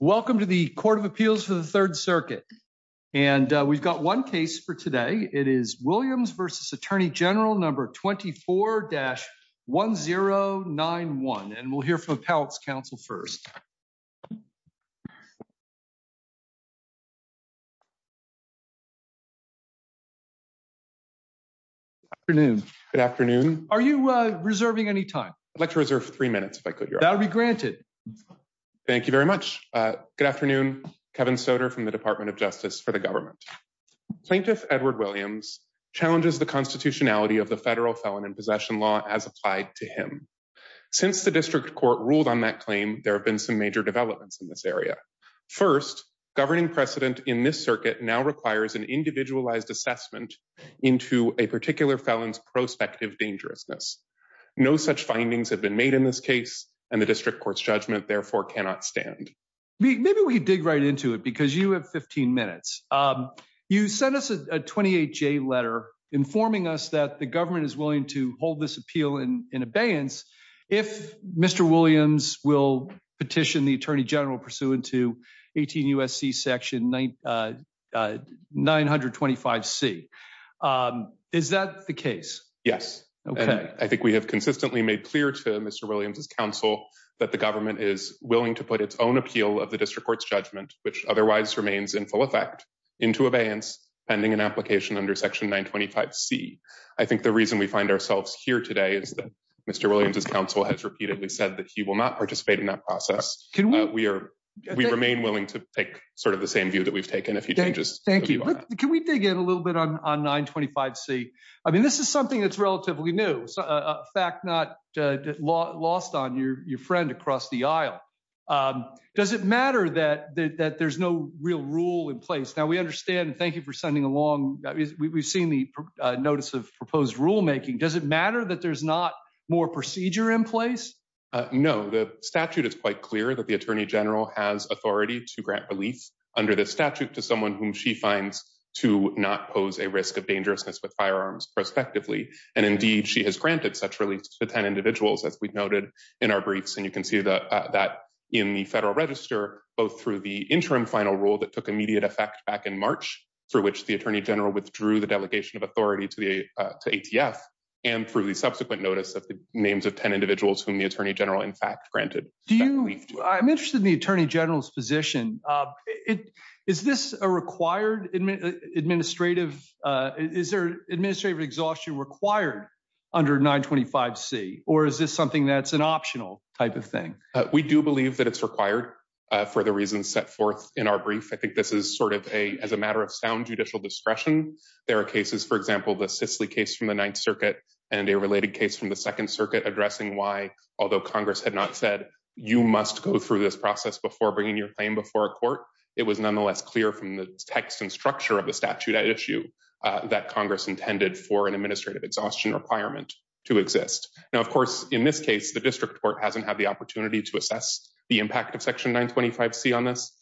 Welcome to the Court of Appeals for the Third Circuit, and we've got one case for today. It is Williams v. Attorney General No. 24-1091, and we'll hear from Appellate's counsel first. Good afternoon. Good afternoon. Are you reserving any time? I'd like to reserve three minutes, if I could, Your Honor. That'll be granted. Thank you very much. Good afternoon. Kevin Soder from the Department of Justice for the Government. Plaintiff Edward Williams challenges the constitutionality of the federal felon in possession law as applied to him. Since the district court ruled on that claim, there have been some major developments in this area. First, governing precedent in this circuit now requires an individualized assessment into a particular felon's prospective dangerousness. No such findings have been made in this case, and the district court's judgment therefore cannot stand. Maybe we dig right into it, because you have 15 minutes. You sent us a 28-J letter informing us that the government is willing to hold this appeal in abeyance if Mr. Williams will petition the general pursuant to 18 U.S.C. section 925C. Is that the case? Yes. I think we have consistently made clear to Mr. Williams' counsel that the government is willing to put its own appeal of the district court's judgment, which otherwise remains in full effect, into abeyance, pending an application under section 925C. I think the reason we find ourselves here today is that Mr. Williams' counsel has repeatedly said that he will not participate in that process. We remain willing to take sort of the same view that we've taken a few changes. Thank you. Can we dig in a little bit on 925C? I mean, this is something that's relatively new, fact not lost on your friend across the aisle. Does it matter that there's no real rule in place? Now, we understand, and thank you for sending along, we've seen the notice of proposed rule making. Does it matter that there's not more procedure in place? No. The statute is quite clear that the Attorney General has authority to grant relief under this statute to someone whom she finds to not pose a risk of dangerousness with firearms, prospectively. And indeed, she has granted such relief to 10 individuals, as we've noted in our briefs. And you can see that in the Federal Register, both through the interim final rule that took immediate effect back in March, through which the Attorney General withdrew the delegation of authority to ATF, and through the subsequent notice of the names of 10 individuals whom the Attorney General, in fact, granted that relief to. I'm interested in the Attorney General's position. Is this a required administrative, is there administrative exhaustion required under 925C, or is this something that's an optional type of thing? We do believe that it's required for the reasons set forth in our brief. I think this is sort of a, as a matter of sound judicial discretion. There are cases, for example, the Cicely case from the Ninth Circuit and a case from the Second Circuit addressing why, although Congress had not said, you must go through this process before bringing your claim before a court, it was nonetheless clear from the text and structure of the statute at issue that Congress intended for an administrative exhaustion requirement to exist. Now, of course, in this case, the District Court hasn't had the opportunity to assess the impact of Section 925C on this.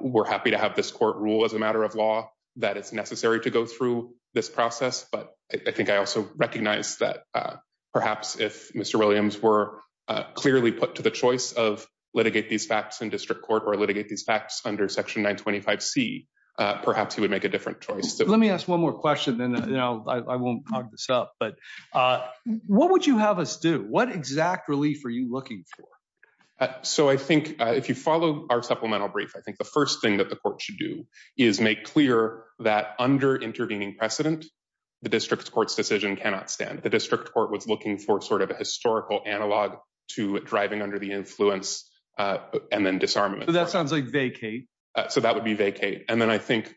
We're happy to have this court rule as a matter of law that it's necessary to go through this process. But I think I also recognize that perhaps if Mr. Williams were clearly put to the choice of litigate these facts in District Court or litigate these facts under Section 925C, perhaps he would make a different choice. Let me ask one more question, then I won't hog this up, but what would you have us do? What exact relief are you looking for? So I think if you follow our supplemental brief, I think the first thing that the court should do is make clear that under intervening precedent, the District Court's decision cannot stand. The District Court was looking for sort of a historical analog to driving under the influence and then disarmament. That sounds like vacate. So that would be vacate. And then I think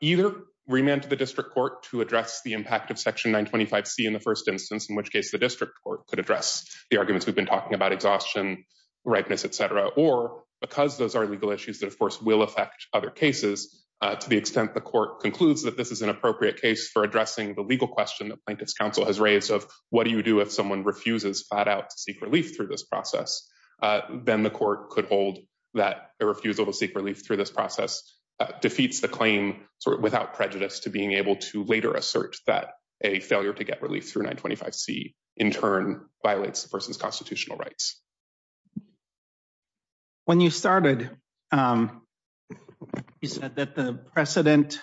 either remand to the District Court to address the impact of Section 925C in the first instance, in which case the District Court could address the arguments we've been talking about exhaustion, ripeness, etc. Or because those are legal issues that of course will affect other cases to the extent the court concludes that this is an appropriate case for addressing the legal question that Plaintiff's Counsel has raised of what do you do if someone refuses flat out to seek relief through this process, then the court could hold that a refusal to seek relief through this process defeats the claim without prejudice to being able to later assert that a failure to get relief through 925C in turn violates the person's constitutional rights. When you started, you said that the precedent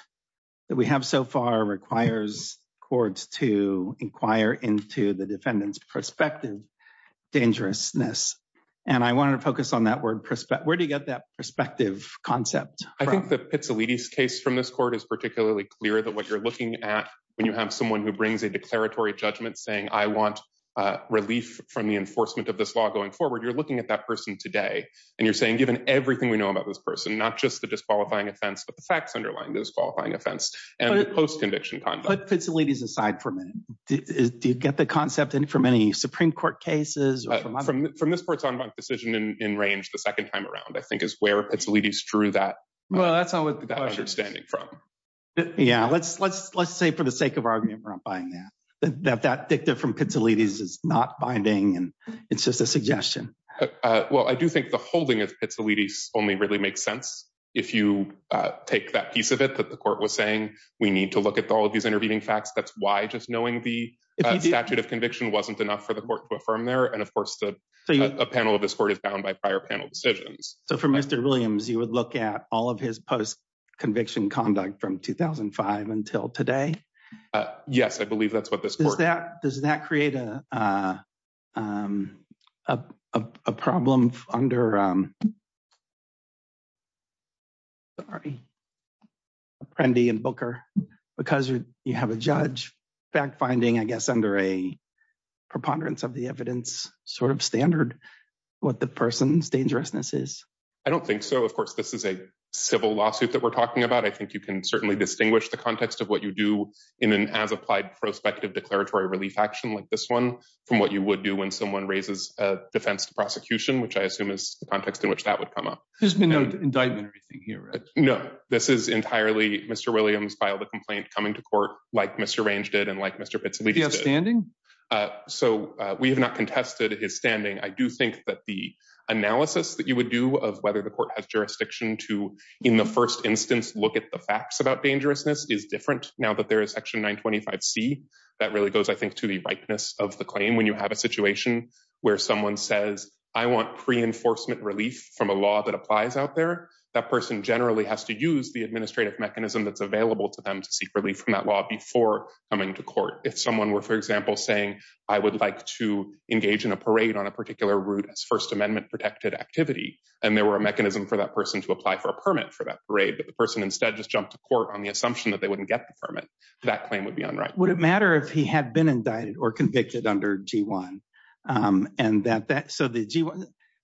that we have so far requires courts to inquire into the defendant's prospective dangerousness. And I want to focus on that word prospect. Where do you get that perspective concept? I think the Pizzolitti's case from this court is particularly clear that what you're looking at when you have someone who brings a declaratory judgment saying, I want relief from the you're looking at that person today and you're saying given everything we know about this person, not just the disqualifying offense, but the facts underlying disqualifying offense and post-conviction conduct. Put Pizzolitti's aside for a minute. Do you get the concept from any Supreme Court cases? From this court's en banc decision in range the second time around, I think, is where Pizzolitti's drew that understanding from. Yeah, let's say for the sake of argument, we're not buying that. That that dicta from Pizzolitti's is not binding and it's just a suggestion. Well, I do think the holding of Pizzolitti's only really makes sense if you take that piece of it that the court was saying we need to look at all of these intervening facts. That's why just knowing the statute of conviction wasn't enough for the court to affirm there. And of course, a panel of this court is bound by prior panel decisions. So for Mr. Williams, you would look at all of his post-conviction conduct from 2005 until today? Yes, I believe that's what this court- Does that create a problem under, sorry, Apprendi and Booker, because you have a judge fact-finding, I guess, under a preponderance of the evidence sort of standard, what the person's dangerousness is? I don't think so. Of course, this is a civil lawsuit that we're talking about. I think you can certainly distinguish the context of what you do in an as-applied prospective declaratory relief action like this one from what you would do when someone raises a defense to prosecution, which I assume is the context in which that would come up. There's been no indictment or anything here, right? No, this is entirely Mr. Williams filed a complaint coming to court like Mr. Range did and like Mr. Pizzolitti did. Do you have standing? So we have not contested his standing. I do think that the analysis that you would do of whether the court has jurisdiction to, in the first instance, look at the facts about dangerousness is different now that there is Section 925C. That really goes, I think, to the ripeness of the claim. When you have a situation where someone says, I want pre-enforcement relief from a law that applies out there, that person generally has to use the administrative mechanism that's available to them to seek relief from that law before coming to court. If someone were, for example, saying, I would like to engage in a parade on a particular route as First Amendment-protected activity, and there were a mechanism for that person to apply for a permit for that parade, but the person instead just jumped to court on the assumption that they wouldn't get the permit, that claim would be unrighteous. Would it matter if he had been indicted or convicted under G1?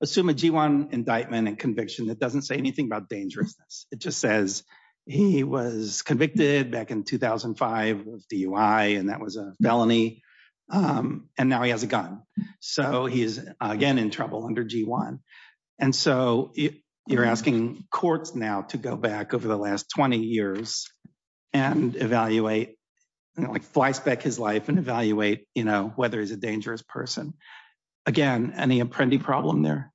Assume a G1 indictment and conviction that doesn't say anything about dangerousness. It just says he was convicted back in 2005 of DUI, and that was a felony, and now he has a gun. So he is, again, in trouble under G1. And so you're asking courts now to go back over the last 20 years and evaluate, like flyspeck his life and evaluate whether he's a dangerous person. Again, any apprendee problem there?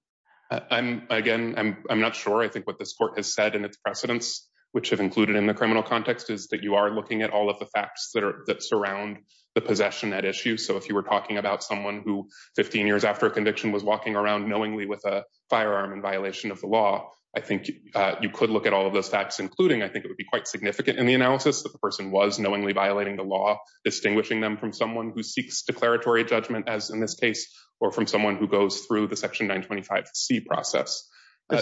Again, I'm not sure. I think what this court has said in its precedents, which have included in the criminal context, is that you are looking at all of the facts that surround the possession at issue. So if you were talking about someone who 15 years after a conviction was walking around knowingly with a firearm in violation of the law, I think you could look at all of those facts, including I think it would be quite significant in the analysis that the person was knowingly violating the law, distinguishing them from someone who seeks declaratory judgment, as in this case, or from someone who goes through the Section 925C process. I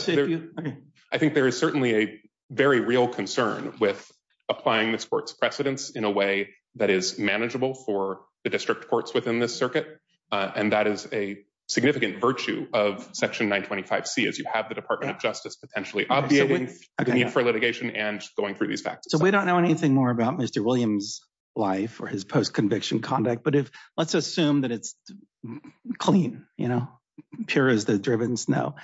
think there is certainly a very real concern with applying this court's precedents in a way that is manageable for the district courts within this circuit. And that is a significant virtue of Section 925C, as you have the Department of Justice potentially obviating the need for litigation and going through these facts. So we don't know anything more about Mr. Williams' life or his post-conviction conduct. But let's assume that it's clean, pure as the driven snow.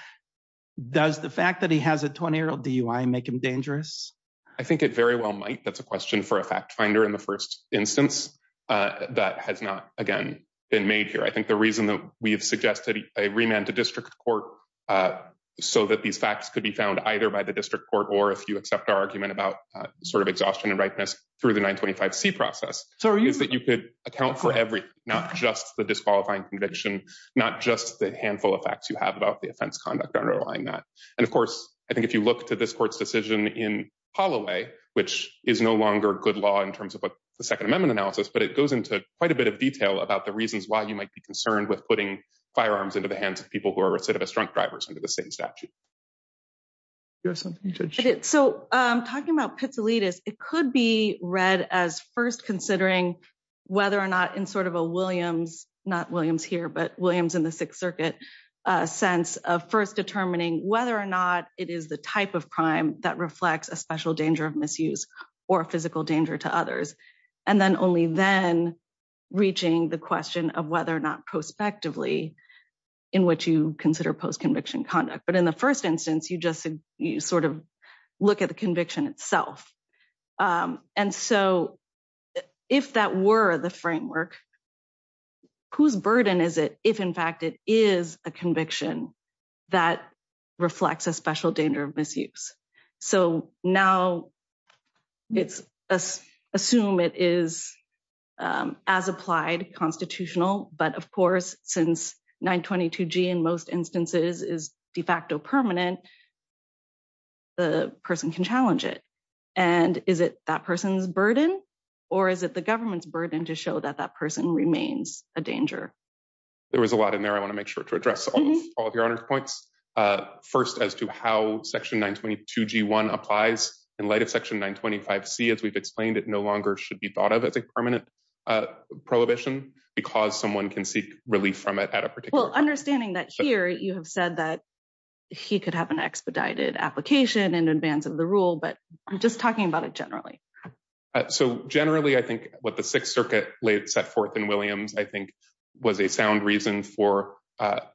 Does the fact that he has a 20-year-old DUI make him dangerous? I think it very well might. That's a question for a fact finder in the first instance. That has not, again, been made here. I think the reason that we've suggested a remand to district court so that these facts could be found either by the district court or if you accept our argument about sort of exhaustion and ripeness through the 925C process is that you could account for everything, not just the disqualifying conviction, not just the handful of facts you have about the offense conduct underlying that. And of course, I think if you look to this court's decision in Holloway, which is no longer good law in terms of what the Second Amendment analysis, but it goes into quite a bit of detail about the reasons why you might be concerned with putting firearms into the hands of people who are recidivist drunk drivers under the same statute. So talking about pizzolitas, it could be read as first considering whether or not in sort of a Williams, not Williams here, but Williams in the Sixth Circuit sense of first determining whether or not it is the type of crime that reflects a special danger of misuse or physical danger to others. And then only then reaching the question of whether or not prospectively in which you consider post-conviction conduct. But in the first instance, you just sort of look at the conviction itself. And so if that were the framework, whose burden is it if in fact it is a conviction that reflects a special danger of misuse. So now it's assume it is as applied constitutional. But of course, since 922 G in most instances is de facto permanent, the person can challenge it. And is it that person's burden or is it the government's burden to show that that person remains a danger? There was a lot in there. I want to make sure to address all of your points. First, as to how section 922 G1 applies in light of section 925 C, as we've explained, it no longer should be thought of as a permanent prohibition because someone can seek relief from it at a particular understanding that here you have said that he could have an expedited application in advance of the rule. But I'm just talking about it generally. So generally, I think what the Sixth Circuit laid set forth in Williams, I think was a strong reason for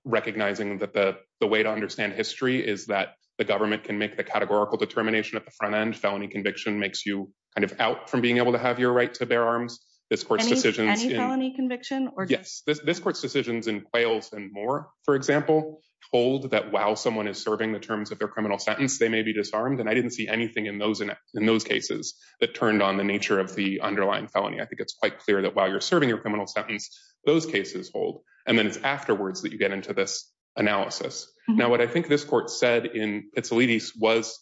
recognizing that the way to understand history is that the government can make the categorical determination at the front end. Felony conviction makes you kind of out from being able to have your right to bear arms. This court's decisions in quails and more, for example, hold that while someone is serving the terms of their criminal sentence, they may be disarmed. And I didn't see anything in those cases that turned on the nature of the underlying felony. I think it's quite clear that while you're serving your criminal sentence, those cases hold. And then it's afterwards that you get into this analysis. Now, what I think this court said in Pizzolitti's was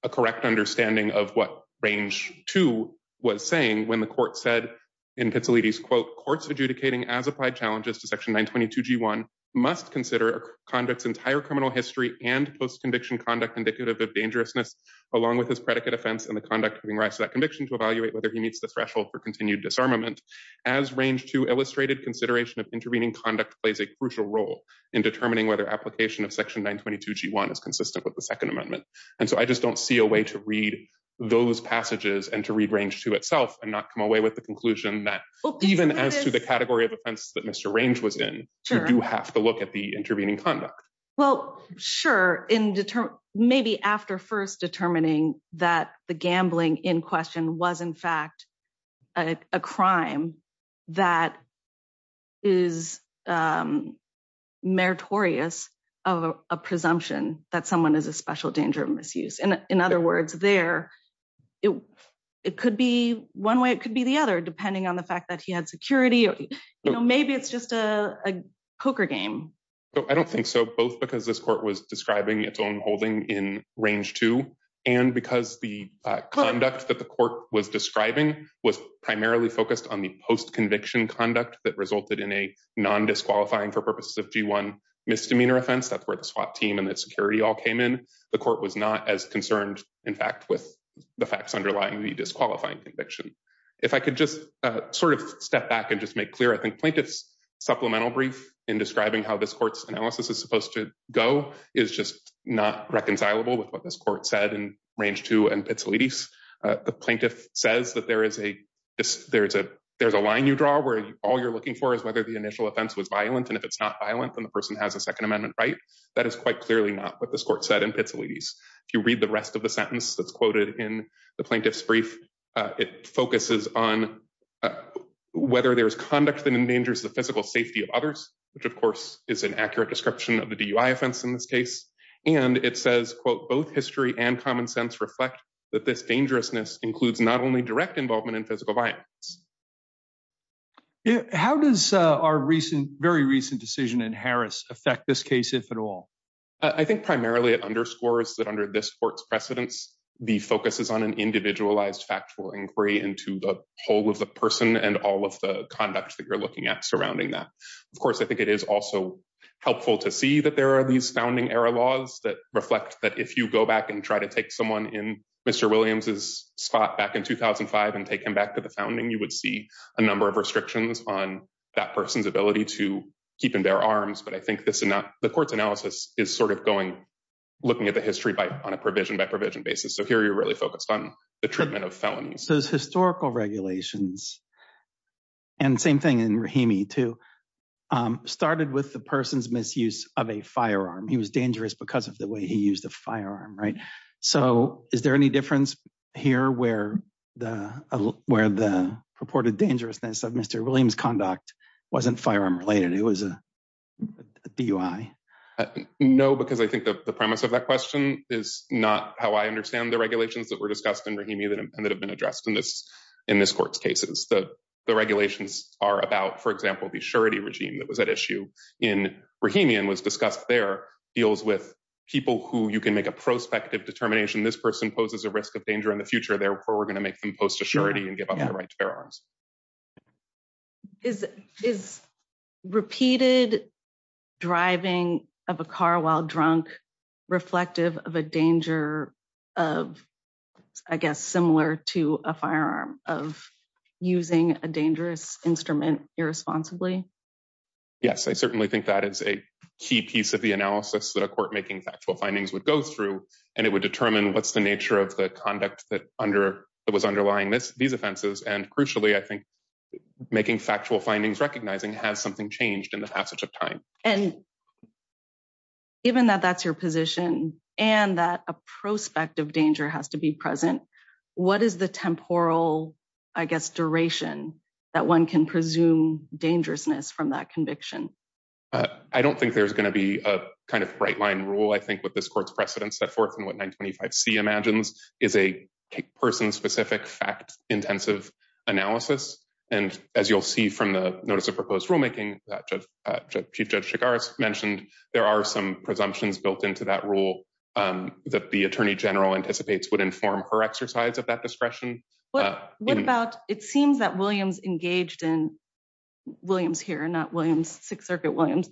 a correct understanding of what range two was saying when the court said in Pizzolitti's quote, courts adjudicating as applied challenges to section 922 G1 must consider conducts entire criminal history and post-conviction conduct indicative of dangerousness, along with his predicate offense and the conduct giving rise to that conviction to evaluate whether he meets the threshold for continued disarmament. As range to illustrated consideration of intervening conduct plays a crucial role in determining whether application of section 922 G1 is consistent with the second amendment. And so I just don't see a way to read those passages and to read range to itself and not come away with the conclusion that even as to the category of offense that Mr. Range was in, you do have to look at the intervening conduct. Well, sure. Maybe after first determining that the gambling in question was in fact a crime that is meritorious of a presumption that someone is a special danger of misuse. In other words, there, it could be one way. It could be the other, depending on the fact that he had security. Maybe it's just a poker game. I don't think so. Both because this court was describing its own holding in range to, and because the conduct that the court was describing was primarily focused on the post-conviction conduct that resulted in a non-disqualifying for purposes of G1 misdemeanor offense. That's where the SWAT team and the security all came in. The court was not as concerned, in fact, with the facts underlying the disqualifying conviction. If I could just sort of step back and just make clear, I think plaintiff's supplemental brief in describing how this court's analysis is supposed to go is just not reconcilable with what this court said in range two and pizzolittis. The plaintiff says that there's a line you draw where all you're looking for is whether the initial offense was violent. And if it's not violent, then the person has a second amendment right. That is quite clearly not what this court said in pizzolittis. If you read the rest of the sentence that's quoted in the plaintiff's brief, it focuses on whether there's conduct that endangers the physical safety of others, which, of course, is an accurate description of the DUI offense in this case. And it says, quote, both history and common sense reflect that this dangerousness includes not only direct involvement in physical violence. How does our very recent decision in Harris affect this case, if at all? I think primarily it underscores that under this court's precedence, the focus is on an individualized factual inquiry into the whole of the person and all of the conduct that you're looking at surrounding that. Of course, I think it is also helpful to see that there are these founding-era laws that reflect that if you go back and try to take someone in Mr. Williams's spot back in 2005 and take him back to the founding, you would see a number of restrictions on that person's ability to keep in their arms. But I think the court's analysis is sort of looking at the history on a provision-by-provision basis. So here you're really focused on the treatment of felonies. Those historical regulations, and same thing in Rahimi, too, started with the person's misuse of a firearm. He was dangerous because of the way he used a firearm, right? So is there any difference here where the purported dangerousness of Mr. Williams's conduct wasn't firearm-related? It was a DUI? No, because I think the premise of that question is not how I understand the regulations that were discussed in Rahimi and that have been addressed in this court's cases. The regulations are about, for example, the surety regime that was at issue in Rahimi and was discussed there, deals with people who you can make a prospective determination this person poses a risk of danger in the future, therefore we're going to make them post-surety and give up the right to bear arms. Is repeated driving of a car while drunk reflective of a danger of, I guess, similar to a firearm of using a dangerous instrument irresponsibly? Yes, I certainly think that is a key piece of the analysis that a court making factual findings would go through, and it would determine what's the nature of the conduct that was underlying these offenses, and crucially, I think, making factual findings recognizing has something changed in the passage of time. And given that that's your position and that a prospective danger has to be present, what is the temporal, I guess, duration that one can presume dangerousness from that conviction? I don't think there's going to be a kind of right-line rule, I think, with this court's precedent set forth and what 925C imagines is a person-specific fact-intensive analysis. And as you'll see from the notice of proposed rulemaking that Chief Judge Chigars mentioned, there are some presumptions built into that rule that the Attorney General anticipates would inform her exercise of that discretion. What about, it seems that Williams engaged in, Williams here, not Williams, Sixth Circuit Williams,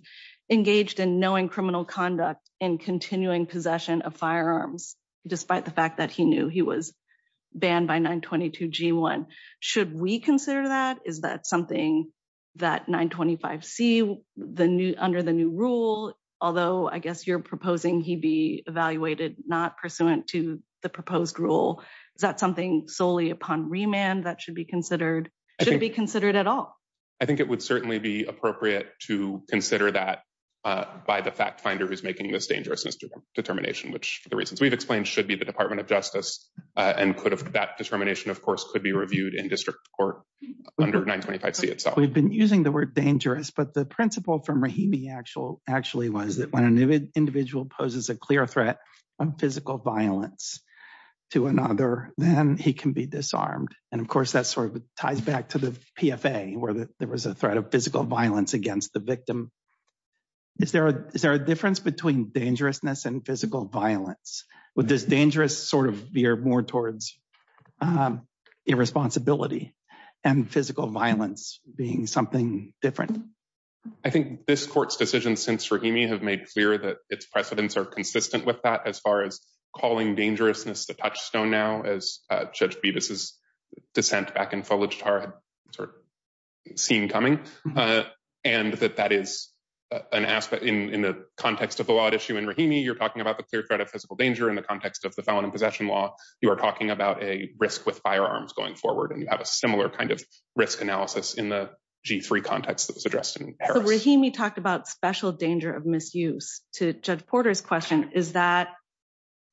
engaged in knowing criminal conduct and continuing possession of firearms, despite the fact that he knew he was banned by 922G1. Should we consider that? Is that something that 925C, under the new rule, although I guess you're proposing he be evaluated not pursuant to the proposed rule, is that something solely upon remand that should be considered? Should it be considered at all? I think it would certainly be appropriate to consider that by the fact finder who's making this dangerousness determination, which the reasons we've explained should be the Department of Justice. And that determination, of course, could be reviewed in district court under 925C itself. We've been using the word dangerous, but the principle from Rahimi actually was that when an individual poses a clear threat of physical violence to another, then he can be disarmed. And of course, that sort of ties back to the PFA, where there was a threat of physical violence against the victim. Is there a difference between dangerousness and physical violence? Would this dangerous sort of veer more towards irresponsibility and physical violence being something different? I think this court's decision since Rahimi have made clear that its precedents are consistent with that as far as calling dangerousness the touchstone now, as Judge Bevis' dissent back in Fulajtar had sort of seen coming. And that that is an aspect in the context of the law at issue in Rahimi, you're talking about the clear threat of physical danger in the context of the felon in possession law. You are talking about a risk with firearms going forward, and you have a similar kind of risk analysis in the G3 context that was addressed in Paris. Rahimi talked about special danger of misuse to Judge Porter's question, is that,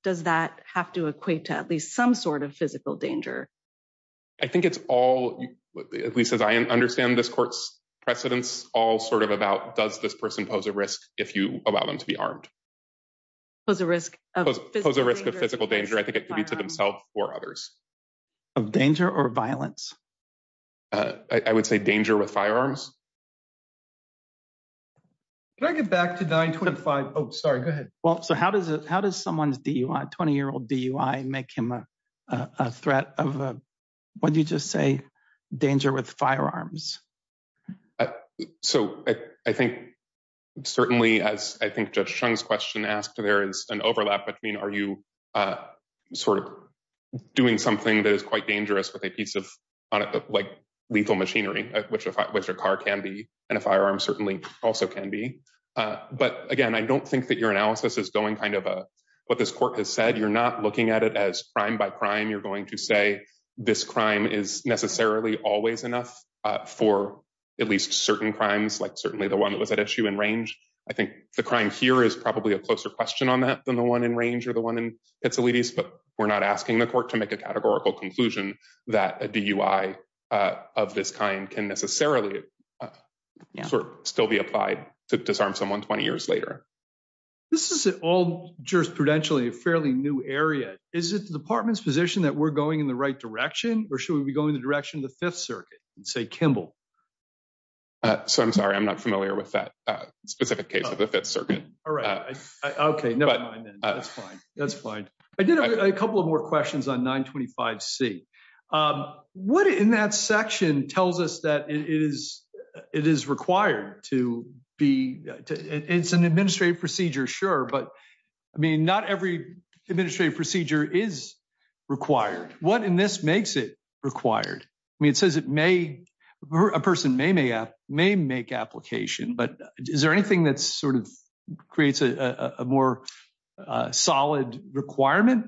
does that have to equate to at least some sort of physical danger? I think it's all, at least as I understand this court's precedents, all sort of about does this person pose a risk if you allow them to be armed? Pose a risk of physical danger. I think it could be to themselves or others. Of danger or violence? I would say danger with firearms. Can I get back to 925? Oh, sorry, go ahead. Well, so how does someone's DUI, 20-year-old DUI, make him a threat of, what did you just say, danger with firearms? So I think certainly, as I think Judge Chung's question asked, there is an overlap between are you sort of doing something that is quite dangerous with a piece of lethal machinery, which a car can be and a firearm certainly also can be. But again, I don't think that your analysis is going kind of what this court has said. You're not looking at it as crime by crime. You're going to say this crime is necessarily always enough for at least certain crimes, like certainly the one that was at issue in Range. I think the crime here is probably a closer question on that than the one in Range or the one in Pitsilides. But we're not asking the court to make a categorical conclusion that a DUI of this kind can necessarily still be applied to disarm someone 20 years later. This is all jurisprudentially a fairly new area. Is it the department's position that we're going in the right direction, or should we be going in the direction of the Fifth Circuit and say Kimball? So I'm sorry, I'm not familiar with that specific case of the Fifth Circuit. All right, OK, never mind then. That's fine. That's fine. I did a couple of more questions on 925C. What in that section tells us that it is required to be, it's an administrative procedure, sure, but I mean, not every administrative procedure is required. What in this makes it required? I mean, it says it may, a person may make application, but is there anything that sort of creates a more solid requirement?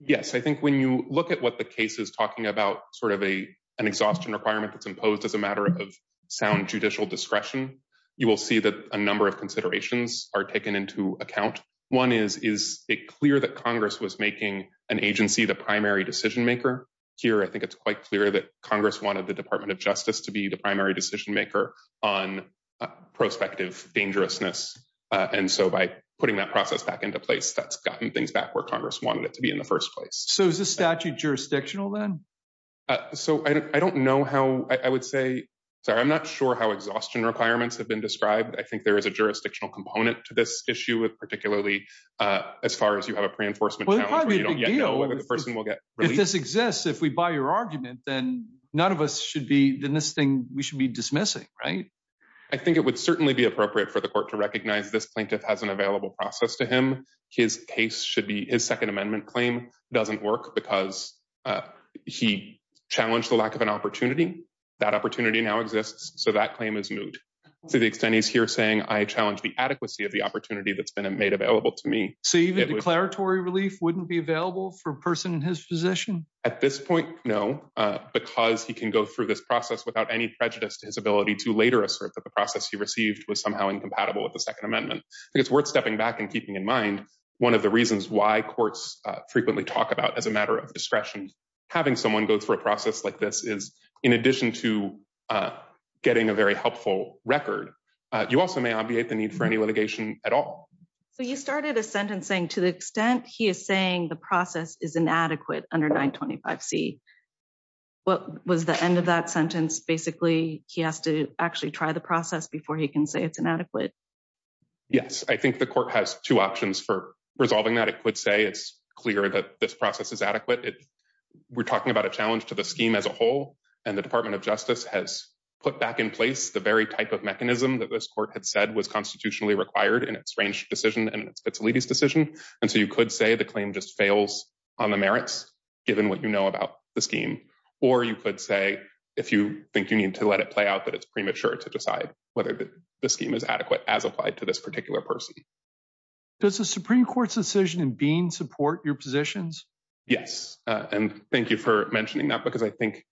Yes, I think when you look at what the case is talking about, sort of an exhaustion requirement that's imposed as a matter of sound judicial discretion, you will see that a number of considerations are taken into account. One is, is it clear that Congress was making an agency the primary decision maker? Here, I think it's quite clear that Congress wanted the Department of Justice to be the primary decision maker on prospective dangerousness. And so by putting that process back into place, that's gotten things back where Congress wanted it to be in the first place. So is this statute jurisdictional then? So I don't know how, I would say, sorry, I'm not sure how exhaustion requirements have been described. I think there is a jurisdictional component to this issue with particularly, as far as you have a pre-enforcement challenge where you don't yet know whether the person will get released. If this exists, if we buy your argument, then none of us should be, then this thing, we should be dismissing, right? I think it would certainly be appropriate for the court to recognize this plaintiff has an available process to him. His case should be, his Second Amendment claim doesn't work because he challenged the lack of an opportunity. That opportunity now exists. So that claim is moot. To the extent he's here saying, I challenge the adequacy of the opportunity that's been made available to me. So even declaratory relief wouldn't be available for a person in his position? At this point, no, because he can go through this process without any prejudice to his ability to later assert that the process he received was somehow incompatible with the Second Amendment. I think it's worth stepping back and keeping in mind one of the reasons why courts frequently talk about, as a matter of discretion, having someone go through a process like this is, in addition to getting a very helpful record, you also may obviate the need for any litigation at all. So you started a sentence saying, to the extent he is saying the process is inadequate under 925C, what was the end of that sentence? Basically, he has to actually try the process before he can say it's inadequate. Yes. I think the court has two options for resolving that. It could say it's clear that this process is adequate. We're talking about a challenge to the scheme as a whole, and the Department of Justice has put back in place the very type of mechanism that this court had said was constitutionally required in its Range decision and its Vitsalides decision. And so you could say the claim just fails on the merits, given what you know about the Or you could say, if you think you need to let it play out, that it's premature to decide whether the scheme is adequate as applied to this particular person. Does the Supreme Court's decision in Bean support your positions? Yes. And thank you for mentioning that, because I think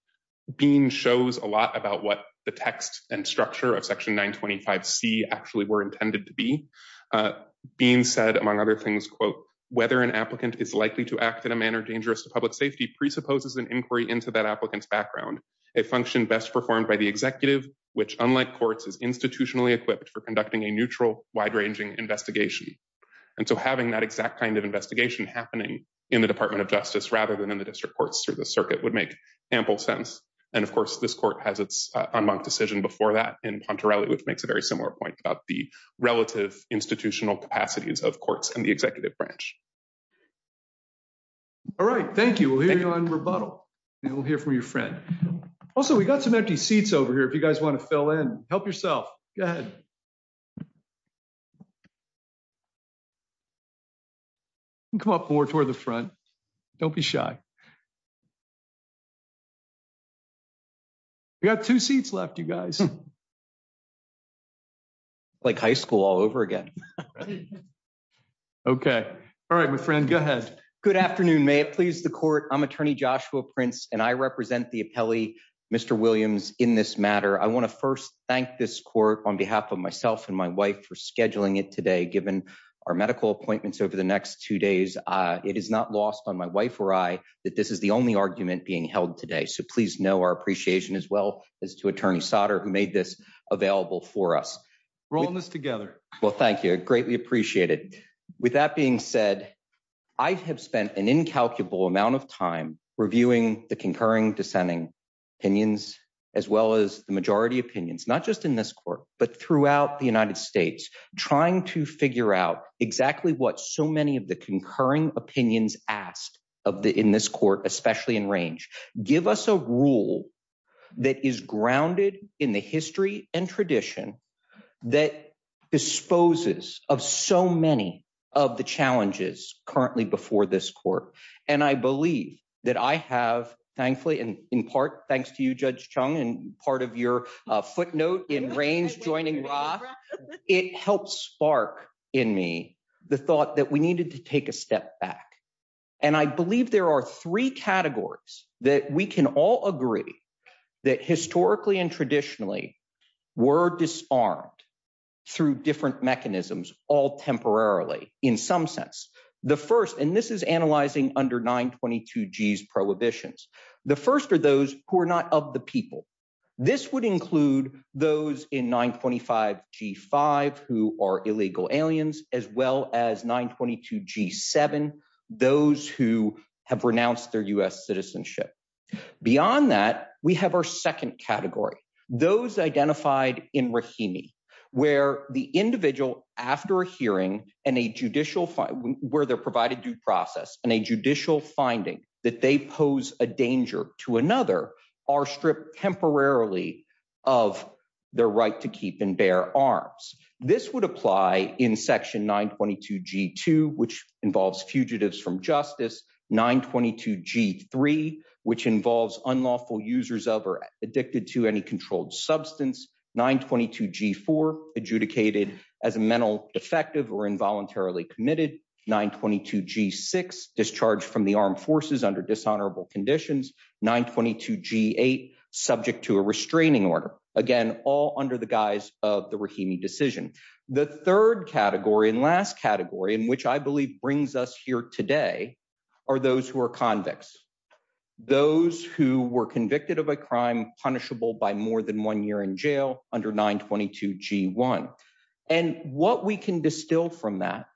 Bean shows a lot about what the text and structure of section 925C actually were intended to be. Bean said, among other things, quote, whether an applicant is likely to act in a manner dangerous to public safety presupposes an inquiry into that applicant's background. A function best performed by the executive, which, unlike courts, is institutionally equipped for conducting a neutral, wide-ranging investigation. And so having that exact kind of investigation happening in the Department of Justice rather than in the district courts through the circuit would make ample sense. And of course, this court has its unmarked decision before that in Pontarelli, which makes a very similar point about the relative institutional capacities of courts and the executive branch. All right. Thank you. We'll hear you on rebuttal. And we'll hear from your friend. Also, we got some empty seats over here if you guys want to fill in. Help yourself. Go ahead. Come up more toward the front. Don't be shy. We got two seats left, you guys. Like high school all over again. Okay. All right, my friend, go ahead. Good afternoon. May it please the court. I'm Attorney Joshua Prince, and I represent the appellee, Mr. Williams, in this matter. I want to first thank this court on behalf of myself and my wife for scheduling it today. Given our medical appointments over the next two days, it is not lost on my wife or I that this is the only argument being held today. So please know our appreciation as well as to Attorney Sotter who made this available for us. Rolling this together. Well, thank you. Greatly appreciated. With that being said, I have spent an incalculable amount of time reviewing the concurring, dissenting opinions as well as the majority opinions, not just in this court, but throughout the United States, trying to figure out exactly what so many of the concurring opinions asked in this court, especially in range. Give us a rule that is grounded in the history and tradition that disposes of so many of the challenges currently before this court. And I believe that I have, thankfully, and in part, thanks to you, Judge Chung, and part of your footnote in range joining Roth, it helped spark in me the thought that we needed to take a step back. And I believe there are three categories that we can all agree that historically and traditionally were disarmed through different mechanisms, all temporarily, in some sense. The first, and this is analyzing under 922 G's prohibitions. The first are those who are not of the people. This would include those in 925 G5 who are illegal aliens, as well as 922 G7, those who have renounced their U.S. citizenship. Beyond that, we have our second category, those identified in Rahimi, where the individual after a hearing and a judicial, where they're provided due process and a judicial finding that they pose a danger to another are stripped temporarily of their right to keep and bear arms. This would apply in section 922 G2, which involves fugitives from justice. 922 G3, which involves unlawful users of or addicted to any controlled substance. 922 G4, adjudicated as a mental defective or involuntarily committed. 922 G6, discharged from the armed forces under dishonorable conditions. 922 G8, subject to a restraining order. Again, all under the guise of the Rahimi decision. The third category and last category, in which I believe brings us here today, are those who are convicts. Those who were convicted of a crime punishable by more than one year in jail under 922 G1. And what we can distill from that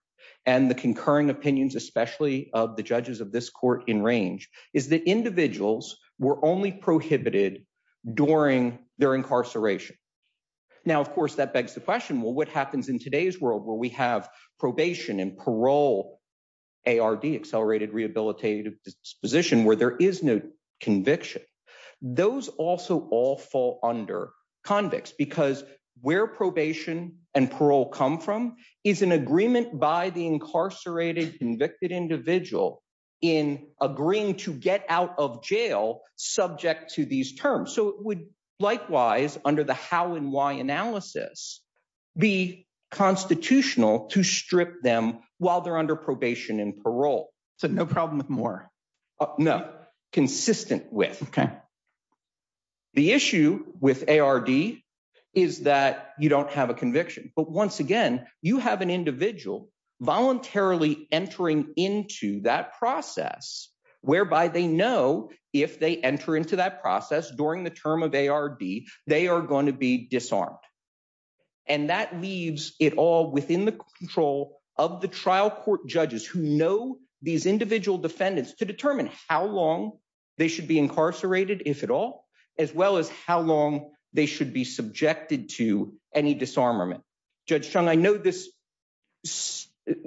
and the concurring opinions, especially of the judges of this court in range, is that individuals were only prohibited during their incarceration. Now, of course, that begs the question, well, what happens in today's world where we have probation and parole, ARD, Accelerated Rehabilitative Disposition, where there is no conviction? Those also all fall under convicts because where probation and parole come from is an agreement by the incarcerated convicted individual in agreeing to get out of jail subject to these terms. So it would likewise, under the how and why analysis, be constitutional to strip them while they're under probation and parole. So no problem with more? No, consistent with. The issue with ARD is that you don't have a conviction. But once again, you have an individual voluntarily entering into that process whereby they know if they enter into that process during the term of ARD, they are going to be disarmed. And that leaves it all within the control of the trial court judges who know these defendants to determine how long they should be incarcerated, if at all, as well as how long they should be subjected to any disarmament. Judge Chung, I know this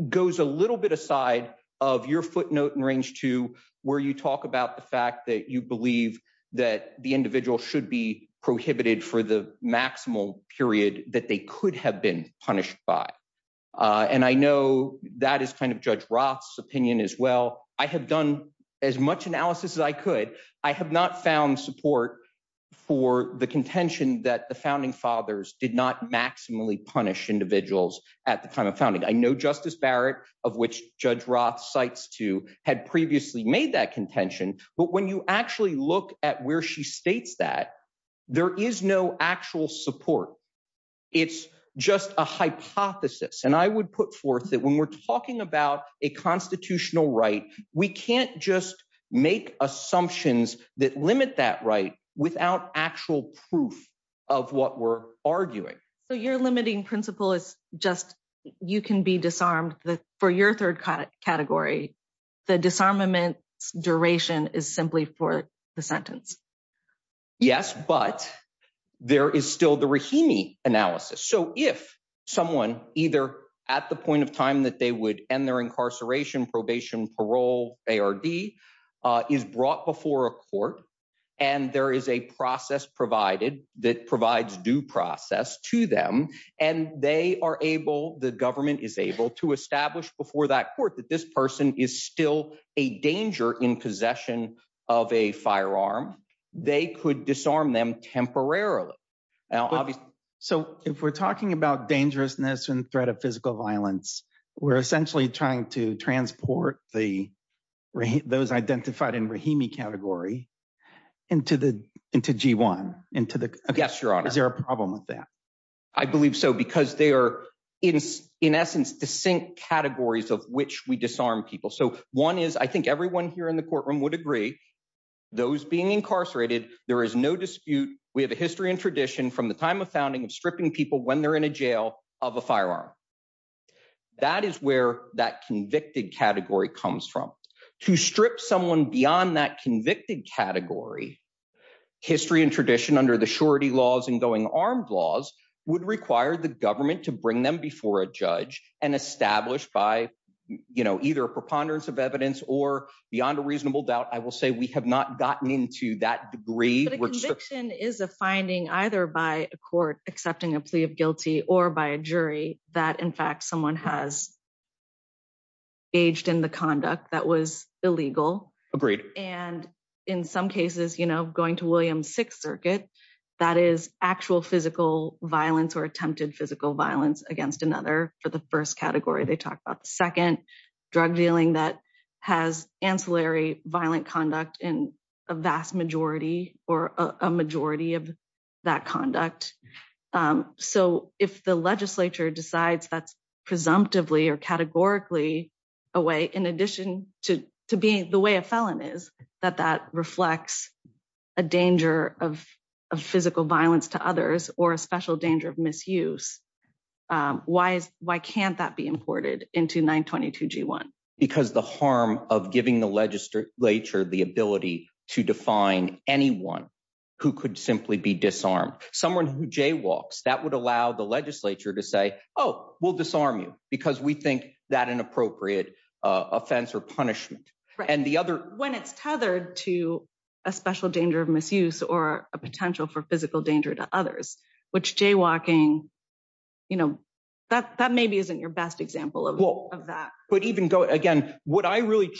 goes a little bit aside of your footnote in range two, where you talk about the fact that you believe that the individual should be prohibited for the maximal period that they could have been punished by. And I know that is kind of Judge Roth's opinion as well. I have done as much analysis as I could. I have not found support for the contention that the founding fathers did not maximally punish individuals at the time of founding. I know Justice Barrett, of which Judge Roth cites two, had previously made that contention. But when you actually look at where she states that, there is no actual support. It's just a hypothesis. And I would put forth that when we're talking about a constitutional right, we can't just make assumptions that limit that right without actual proof of what we're arguing. So your limiting principle is just you can be disarmed for your third category. The disarmament duration is simply for the sentence. Yes, but there is still the Rahimi analysis. So if someone, either at the point of time that they would end their incarceration, probation, parole, ARD, is brought before a court, and there is a process provided that provides due process to them, and they are able, the government is able to establish before that this person is still a danger in possession of a firearm, they could disarm them temporarily. So if we're talking about dangerousness and threat of physical violence, we're essentially trying to transport those identified in Rahimi category into G1. Yes, Your Honor. Is there a problem with that? I believe so, because they are, in essence, distinct categories of which we disarm people. So one is, I think everyone here in the courtroom would agree, those being incarcerated, there is no dispute. We have a history and tradition from the time of founding of stripping people when they're in a jail of a firearm. That is where that convicted category comes from. To strip someone beyond that convicted category, history and tradition under the surety laws and going armed laws would require the government to bring them before a judge and establish by either a preponderance of evidence or beyond a reasonable doubt, I will say we have not gotten into that degree. But a conviction is a finding either by a court accepting a plea of guilty or by a jury that in fact someone has engaged in the conduct that was illegal. Agreed. And in some cases, you know, going to Williams Sixth Circuit, that is actual physical violence or attempted physical violence against another for the first category. They talk about the second drug dealing that has ancillary violent conduct in a vast majority or a majority of that conduct. So if the legislature decides that's presumptively or categorically a way in addition to being the way a felon is, that that reflects a danger of physical violence to others or a special danger of misuse, why is why can't that be imported into 922 G1? Because the harm of giving the legislature the ability to define anyone who could simply be disarmed, someone who jaywalks that would allow the legislature to say, oh, we'll disarm you because we think that an appropriate offense or punishment. And the other when it's tethered to a special danger of misuse or a potential for physical danger to others, which jaywalking, you know, that that maybe isn't your best example of that. But even again, what I really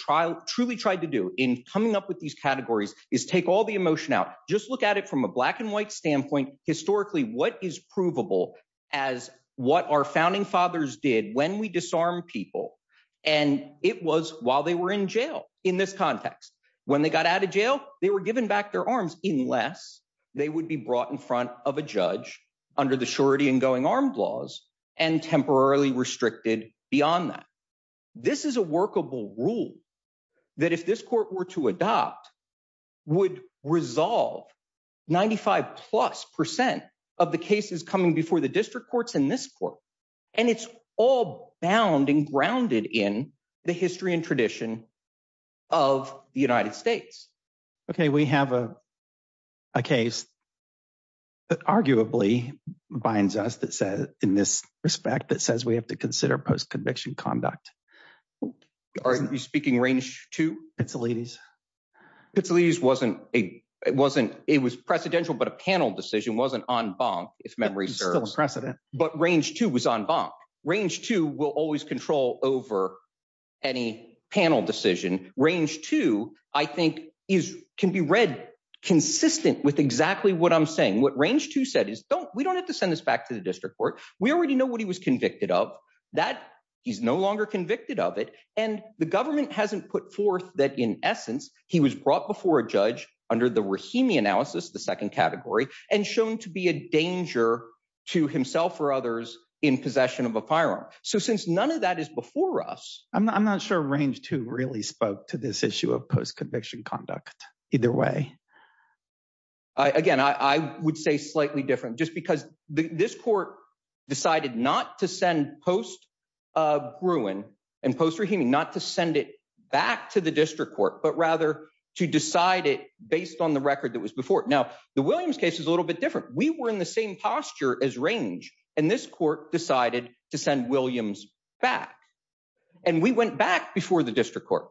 truly tried to do in coming up with these categories is take all the emotion out. Just look at it from a black and white standpoint. Historically, what is provable as what our founding fathers did when we disarm people? And it was while they were in jail. In this context, when they got out of jail, they were given back their arms unless they would be brought in front of a judge under the surety and going armed laws and temporarily restricted beyond that. This is a workable rule that if this court were to adopt, would resolve 95 plus percent of the cases coming before the district courts in this court. And it's all bound and grounded in the history and tradition of the United States. OK, we have a case that arguably binds us that said in this respect that says we have to consider post-conviction conduct. Are you speaking range to it's the ladies? It's the ladies wasn't a it wasn't it was precedential, but a panel decision wasn't en banc if memory serves precedent. But range two was en banc. Range two will always control over any panel decision. Range two, I think, is can be read consistent with exactly what I'm saying. What range two said is, don't we don't have to send this back to the district court. We already know what he was convicted of that he's no longer convicted of it. And the government hasn't put forth that. In essence, he was brought before a judge under the Rahimi analysis, the second category and shown to be a danger to himself or others in possession of a firearm. So since none of that is before us, I'm not sure range to really spoke to this issue of post-conviction conduct either way. Again, I would say slightly different just because this court decided not to send post Gruen and post Rahimi, not to send it back to the district court, but rather to decide it based on the record that was before it. The Williams case is a little bit different. We were in the same posture as range and this court decided to send Williams back. And we went back before the district court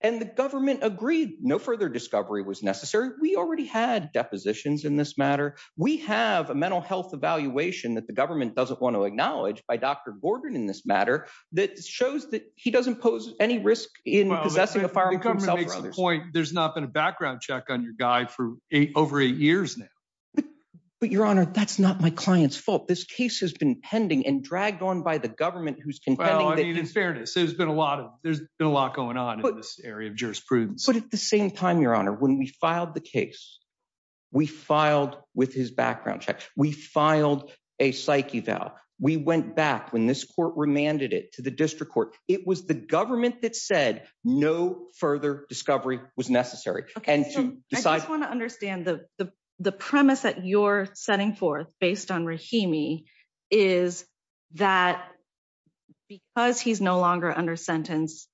and the government agreed no further discovery was necessary. We already had depositions in this matter. We have a mental health evaluation that the government doesn't want to acknowledge by Dr. Gordon in this matter that shows that he doesn't pose any risk in possessing a firearm. There's not been a background check on your guy for over eight years now. But Your Honor, that's not my client's fault. This case has been pending and dragged on by the government who's in fairness. There's been a lot of there's been a lot going on in this area of jurisprudence. But at the same time, Your Honor, when we filed the case, we filed with his background check. We filed a psyche. Val, we went back when this court remanded it to the district court. It was the government that said no further discovery was necessary. And I just want to understand the premise that you're setting forth based on Rahimi is that because he's no longer under sentence.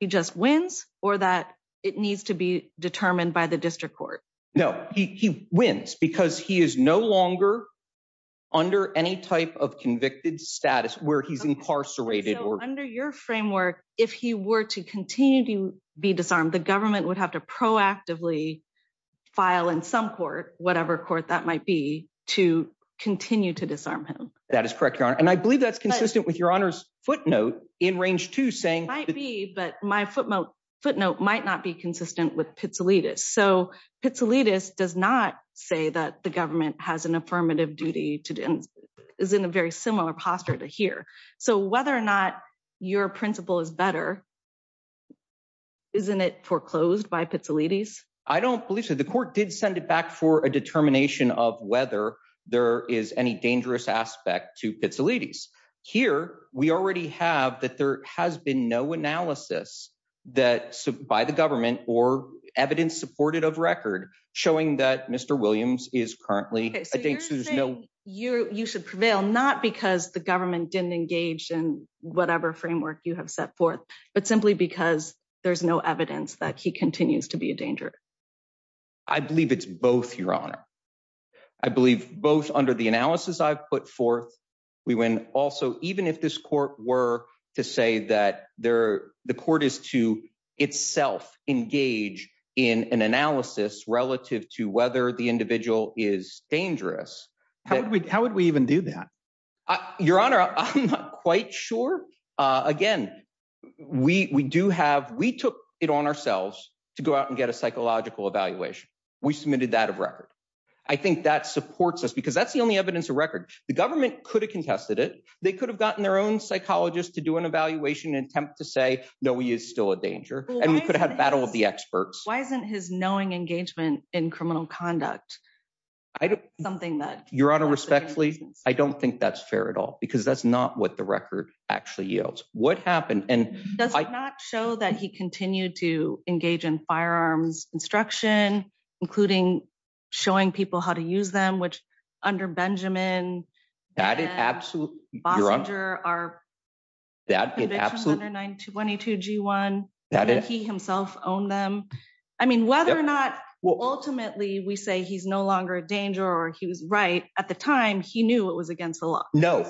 He just wins or that it needs to be determined by the district court. No, he wins because he is no longer under any type of convicted status where he's under your framework. If he were to continue to be disarmed, the government would have to proactively file in some court, whatever court that might be to continue to disarm him. That is correct, Your Honor. And I believe that's consistent with Your Honor's footnote in range to saying might be. But my footnote footnote might not be consistent with Pizzolittis. So Pizzolittis does not say that the government has an affirmative duty to is in a very similar posture to here. So whether or not your principle is better. Isn't it foreclosed by Pizzolittis? I don't believe so. The court did send it back for a determination of whether there is any dangerous aspect to Pizzolittis here. We already have that. There has been no analysis that by the government or evidence supported of record showing that Mr. Williams is currently. No, you should prevail, not because the government didn't engage in whatever framework you have set forth, but simply because there's no evidence that he continues to be a danger. I believe it's both, Your Honor. I believe both under the analysis I've put forth. We went also, even if this court were to say that there the court is to itself engage in an analysis relative to whether the individual is dangerous. How would we even do that? Your Honor, I'm not quite sure. Again, we do have, we took it on ourselves to go out and get a psychological evaluation. We submitted that of record. I think that supports us because that's the only evidence of record. The government could have contested it. They could have gotten their own psychologist to do an evaluation and attempt to say, no, he is still a danger. And we could have battle with the experts. Why isn't his knowing engagement in criminal conduct? I don't. Something that. Your Honor, respectfully, I don't think that's fair at all because that's not what the record actually yields. What happened and. Does it not show that he continued to engage in firearms instruction, including showing people how to use them, which under Benjamin. That is absolutely. Boxer are. That it absolutely 922 G1 that he himself owned them. I mean, whether or not ultimately we say he's no longer a danger or he was right at the time, he knew it was against the law. No,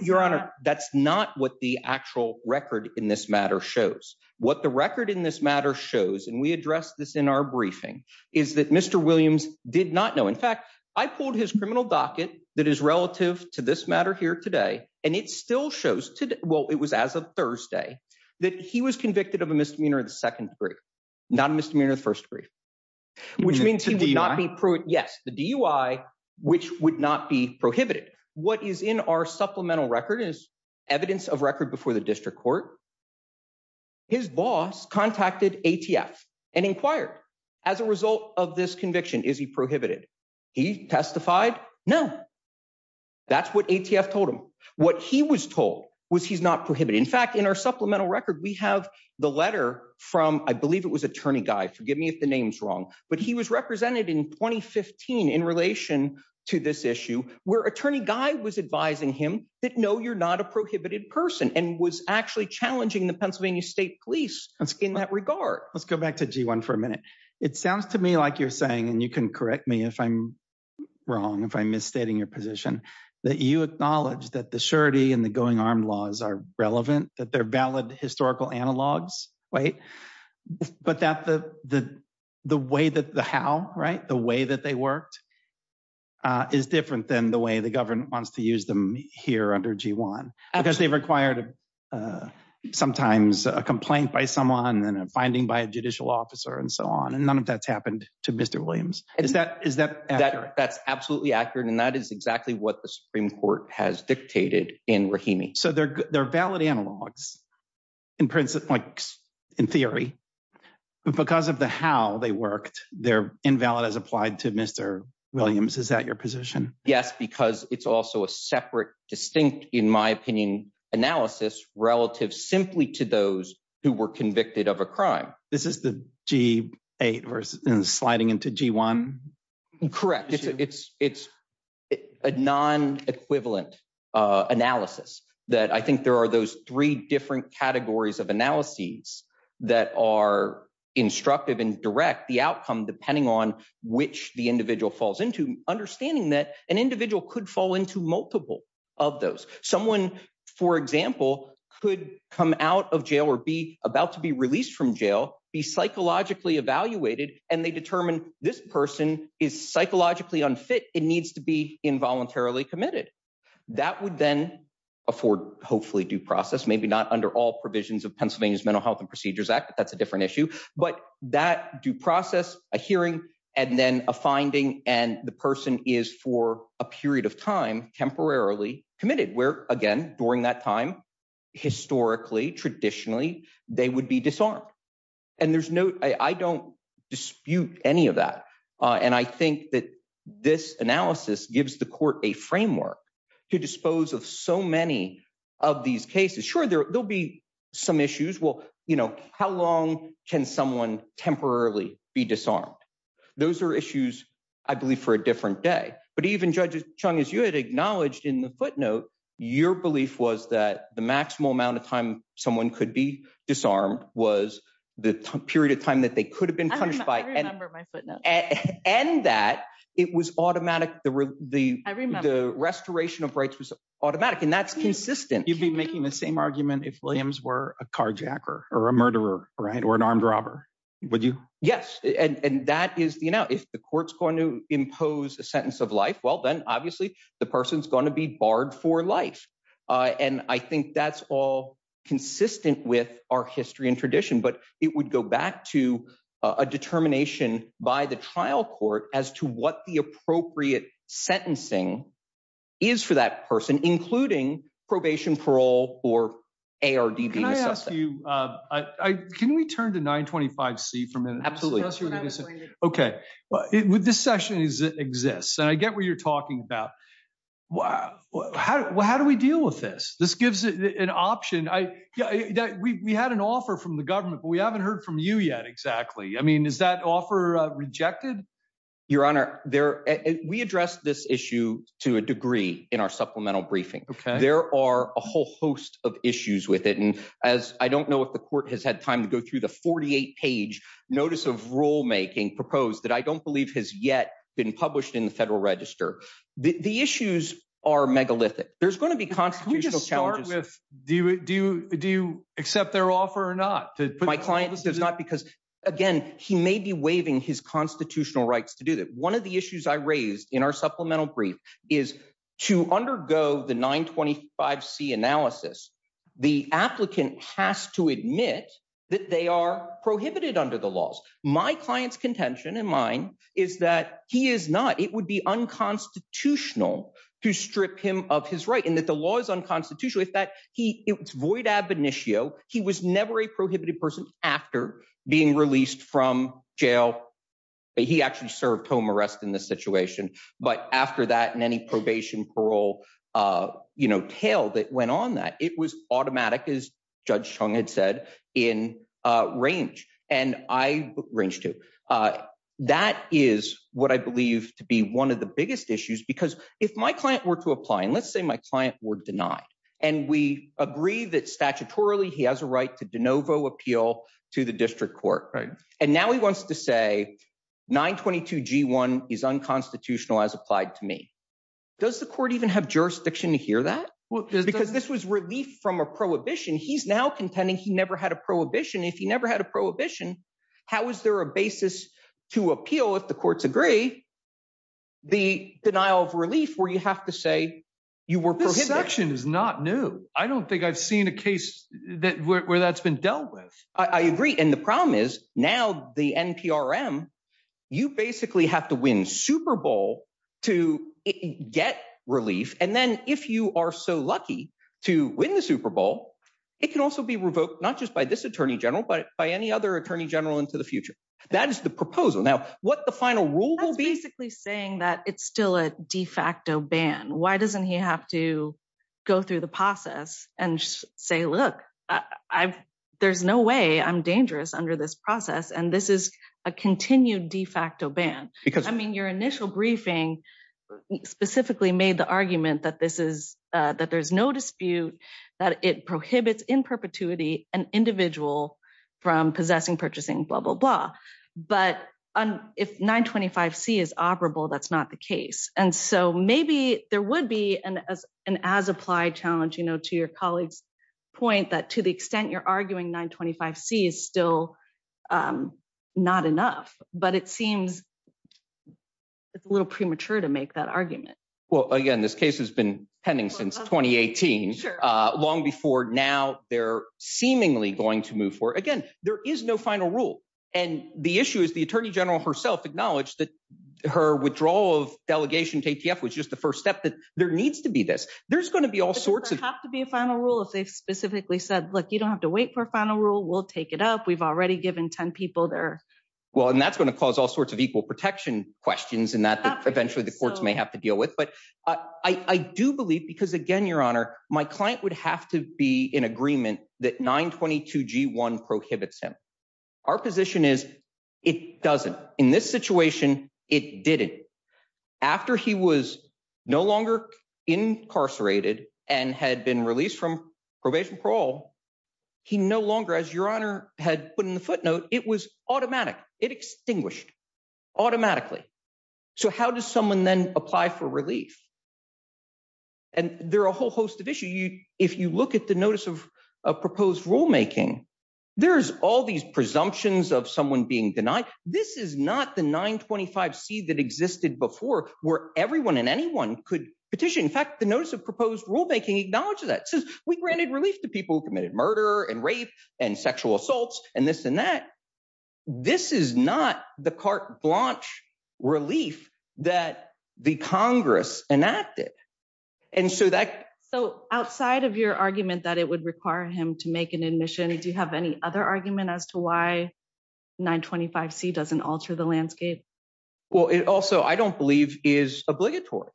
Your Honor. That's not what the actual record in this matter shows what the record in this matter shows. And we address this in our briefing is that Mr. Williams did not know. In fact, I pulled his criminal docket that is relative to this matter here today, and it still shows today. Well, it was as of Thursday that he was convicted of a misdemeanor of the second degree, not a misdemeanor of first degree. Which means he would not be proved. Yes, the DUI, which would not be prohibited. What is in our supplemental record is evidence of record before the district court. His boss contacted ATF and inquired as a result of this conviction, is he prohibited? He testified no. That's what ATF told him. What he was told was he's not prohibited. In fact, in our supplemental record, we have the letter from I believe it was Attorney Guy. Forgive me if the name's wrong, but he was represented in 2015 in relation to this issue where Attorney Guy was advising him that no, you're not a prohibited person and was actually challenging the Pennsylvania State Police in that regard. Let's go back to G1 for a minute. It sounds to me like you're saying, and you can correct me if I'm wrong, if I'm misstating your position, that you acknowledge that the surety and the going armed laws are relevant, that they're valid historical analogs, right? But the how, right? The way that they worked is different than the way the government wants to use them here under G1 because they've required sometimes a complaint by someone and a finding by a and none of that's happened to Mr. Williams. That's absolutely accurate and that is exactly what the Supreme Court has dictated in Rahimi. So they're valid analogs in theory, but because of the how they worked, they're invalid as applied to Mr. Williams. Is that your position? Yes, because it's also a separate, distinct, in my opinion, analysis relative simply to those who were convicted of a crime. This is the G8 versus sliding into G1? Correct. It's a non-equivalent analysis that I think there are those three different categories of analyses that are instructive and direct the outcome depending on which the individual falls into, understanding that an individual could fall into multiple of those. Someone, for example, could come out of jail or be about to be released from jail, be psychologically evaluated, and they determine this person is psychologically unfit. It needs to be involuntarily committed. That would then afford hopefully due process, maybe not under all provisions of Pennsylvania's Mental Health and Procedures Act, but that's a different issue. But that due process, a hearing, and then a finding, and the person is for a period of temporarily committed where, again, during that time, historically, traditionally, they would be disarmed. I don't dispute any of that, and I think that this analysis gives the court a framework to dispose of so many of these cases. Sure, there'll be some issues. How long can someone temporarily be disarmed? Those are issues, I believe, for a different day. But even, Judge Chung, as you had acknowledged in the footnote, your belief was that the maximal amount of time someone could be disarmed was the period of time that they could have been punished by. I remember my footnote. And that it was automatic. I remember. The restoration of rights was automatic, and that's consistent. You'd be making the same argument if Williams were a carjacker or a murderer, right, or an armed robber, would you? Yes, and that is the amount. If the court's going to impose a sentence of life, well, then, obviously, the person's going to be barred for life. And I think that's all consistent with our history and tradition, but it would go back to a determination by the trial court as to what the appropriate sentencing is for that person, including probation, parole, or ARDB. Can I ask you, can we turn to 925C for a minute? Absolutely. Okay, well, this session exists, and I get what you're talking about. Well, how do we deal with this? This gives an option. We had an offer from the government, but we haven't heard from you yet, exactly. I mean, is that offer rejected? Your Honor, we addressed this issue to a degree in our supplemental briefing. There are a whole host of issues with it, and I don't know if the court has had time to go through the 48-page notice of rulemaking proposed that I don't believe has yet been published in the Federal Register. The issues are megalithic. There's going to be constitutional challenges. Do you accept their offer or not? My client says not, because, again, he may be waiving his constitutional rights to do that. One of the issues I raised in our supplemental brief is to undergo the 925C analysis, the applicant has to admit that they are prohibited under the laws. My client's contention, and mine, is that he is not. It would be unconstitutional to strip him of his right, and that the law is unconstitutional if that—it's void ab initio. He was never a prohibited person after being released from jail. He actually served home arrest in this situation. But after that, and any probation, parole, you know, tail that went on that, it was automatic, as Judge Chung had said, in range, and I range, too. That is what I believe to be one of the biggest issues, because if my client were to apply, and let's say my client were denied, and we agree that, statutorily, he has a right to de novo appeal to the district court. And now he wants to say, 922G1 is unconstitutional as applied to me. Does the court even have jurisdiction to hear that? Because this was relief from a prohibition. He's now contending he never had a prohibition. If he never had a prohibition, how is there a basis to appeal, if the courts agree, the denial of relief where you have to say you were prohibited? This section is not new. I don't think I've seen a case where that's been dealt with. I agree. And the problem is, now the NPRM, you basically have to win Super Bowl to get relief. And then if you are so lucky to win the Super Bowl, it can also be revoked, not just by this attorney general, but by any other attorney general into the future. That is the proposal. Now, what the final rule will be- That's basically saying that it's still a de facto ban. Why doesn't he have to go through the process and say, look, there's no way I'm dangerous under this process. And this is a continued de facto ban. I mean, your initial briefing specifically made the argument that there's no dispute that it prohibits in perpetuity an individual from possessing, purchasing, blah, blah, blah. But if 925C is operable, that's not the case. And so maybe there would be an as-applied challenge, to your colleague's point, that to the extent you're arguing 925C is still not enough. But it seems it's a little premature to make that argument. Well, again, this case has been pending since 2018, long before now they're seemingly going to move forward. Again, there is no final rule. And the issue is the attorney general herself acknowledged that her withdrawal of delegation to ATF was just the first step, that there needs to be this. There's going to be all sorts of- Does there have to be a final rule if they specifically said, look, you don't have to wait for a final rule. We'll take it up. We've already given 10 people their- Well, and that's going to cause all sorts of equal protection questions and that eventually the courts may have to deal with. But I do believe, because again, your honor, my client would have to be in agreement that 922G1 prohibits him. Our position is it doesn't. In this situation, it didn't. After he was no longer incarcerated and had been released from probation parole, he no longer, as your honor had put in the footnote, it was automatic. It extinguished automatically. So how does someone then apply for relief? And there are a whole host of issues. If you look at the notice of proposed rulemaking, there's all these presumptions of someone being denied. This is not the 925C that existed before where everyone and anyone could petition. In fact, the notice of proposed rulemaking acknowledges that. It says we granted relief to people who committed murder and rape and sexual assaults and this and that. This is not the carte blanche relief that the Congress enacted. And so that- Outside of your argument that it would require him to make an admission, do you have any other argument as to why 925C doesn't alter the landscape? Well, it also, I don't believe, is obligatory.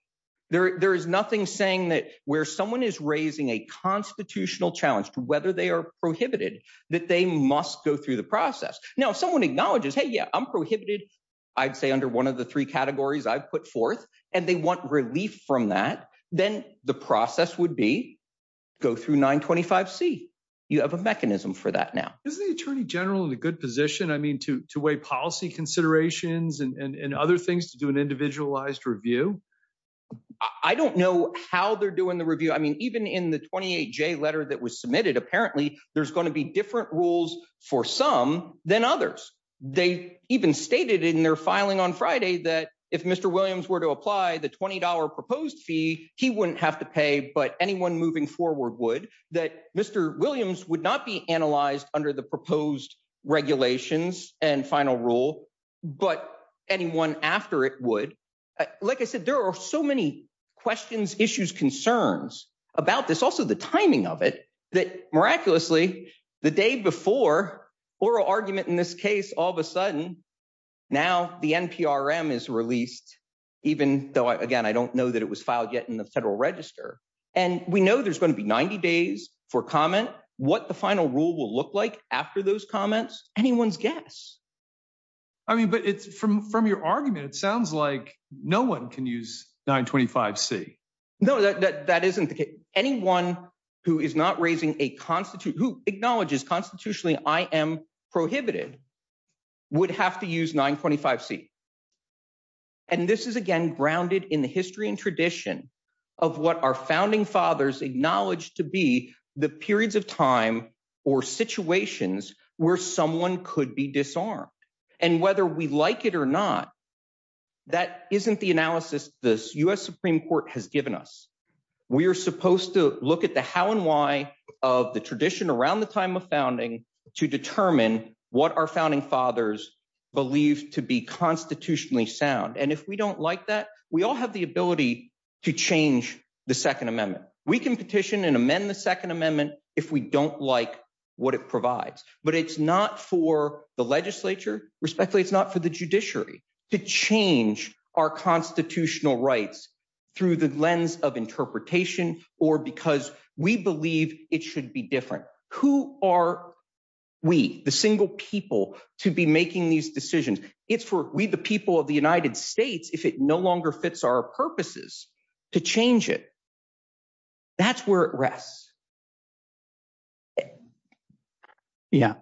There is nothing saying that where someone is raising a constitutional challenge to whether they are prohibited, that they must go through the process. Now, if someone acknowledges, hey, yeah, I'm prohibited, I'd say under one of the three I've put forth and they want relief from that, then the process would be go through 925C. You have a mechanism for that now. Is the Attorney General in a good position, I mean, to weigh policy considerations and other things to do an individualized review? I don't know how they're doing the review. I mean, even in the 28J letter that was submitted, apparently there's going to be different rules for some than others. They even stated in their filing on Friday that if Mr. Williams were to apply the $20 proposed fee, he wouldn't have to pay, but anyone moving forward would. That Mr. Williams would not be analyzed under the proposed regulations and final rule, but anyone after it would. Like I said, there are so many questions, issues, concerns about this, also the timing of it, that miraculously the day before, oral argument in this case, all of a sudden now the NPRM is released, even though, again, I don't know that it was filed yet in the Federal Register. And we know there's going to be 90 days for comment. What the final rule will look like after those comments, anyone's guess. I mean, but from your argument, it sounds like no one can use 925C. No, that isn't the case. Anyone who is not raising a constitute, who acknowledges constitutionally I am prohibited, would have to use 925C. And this is, again, grounded in the history and tradition of what our founding fathers acknowledged to be the periods of time or situations where someone could be disarmed. And whether we like it or not, that isn't the analysis this U.S. Supreme Court has given us. We are supposed to look at the how and why of the tradition around the time of founding to determine what our founding fathers believed to be constitutionally sound. And if we don't like that, we all have the ability to change the Second Amendment. We can petition and amend the Second Amendment if we don't like what it provides. But it's not for the legislature, respectfully, it's not for the judiciary, to change our constitutional rights through the lens of interpretation or because we believe it should be different. Who are we, the single people, to be making these decisions? It's for we, the people of the United States, if it no longer fits our purposes, to change it. That's where it rests. Yeah,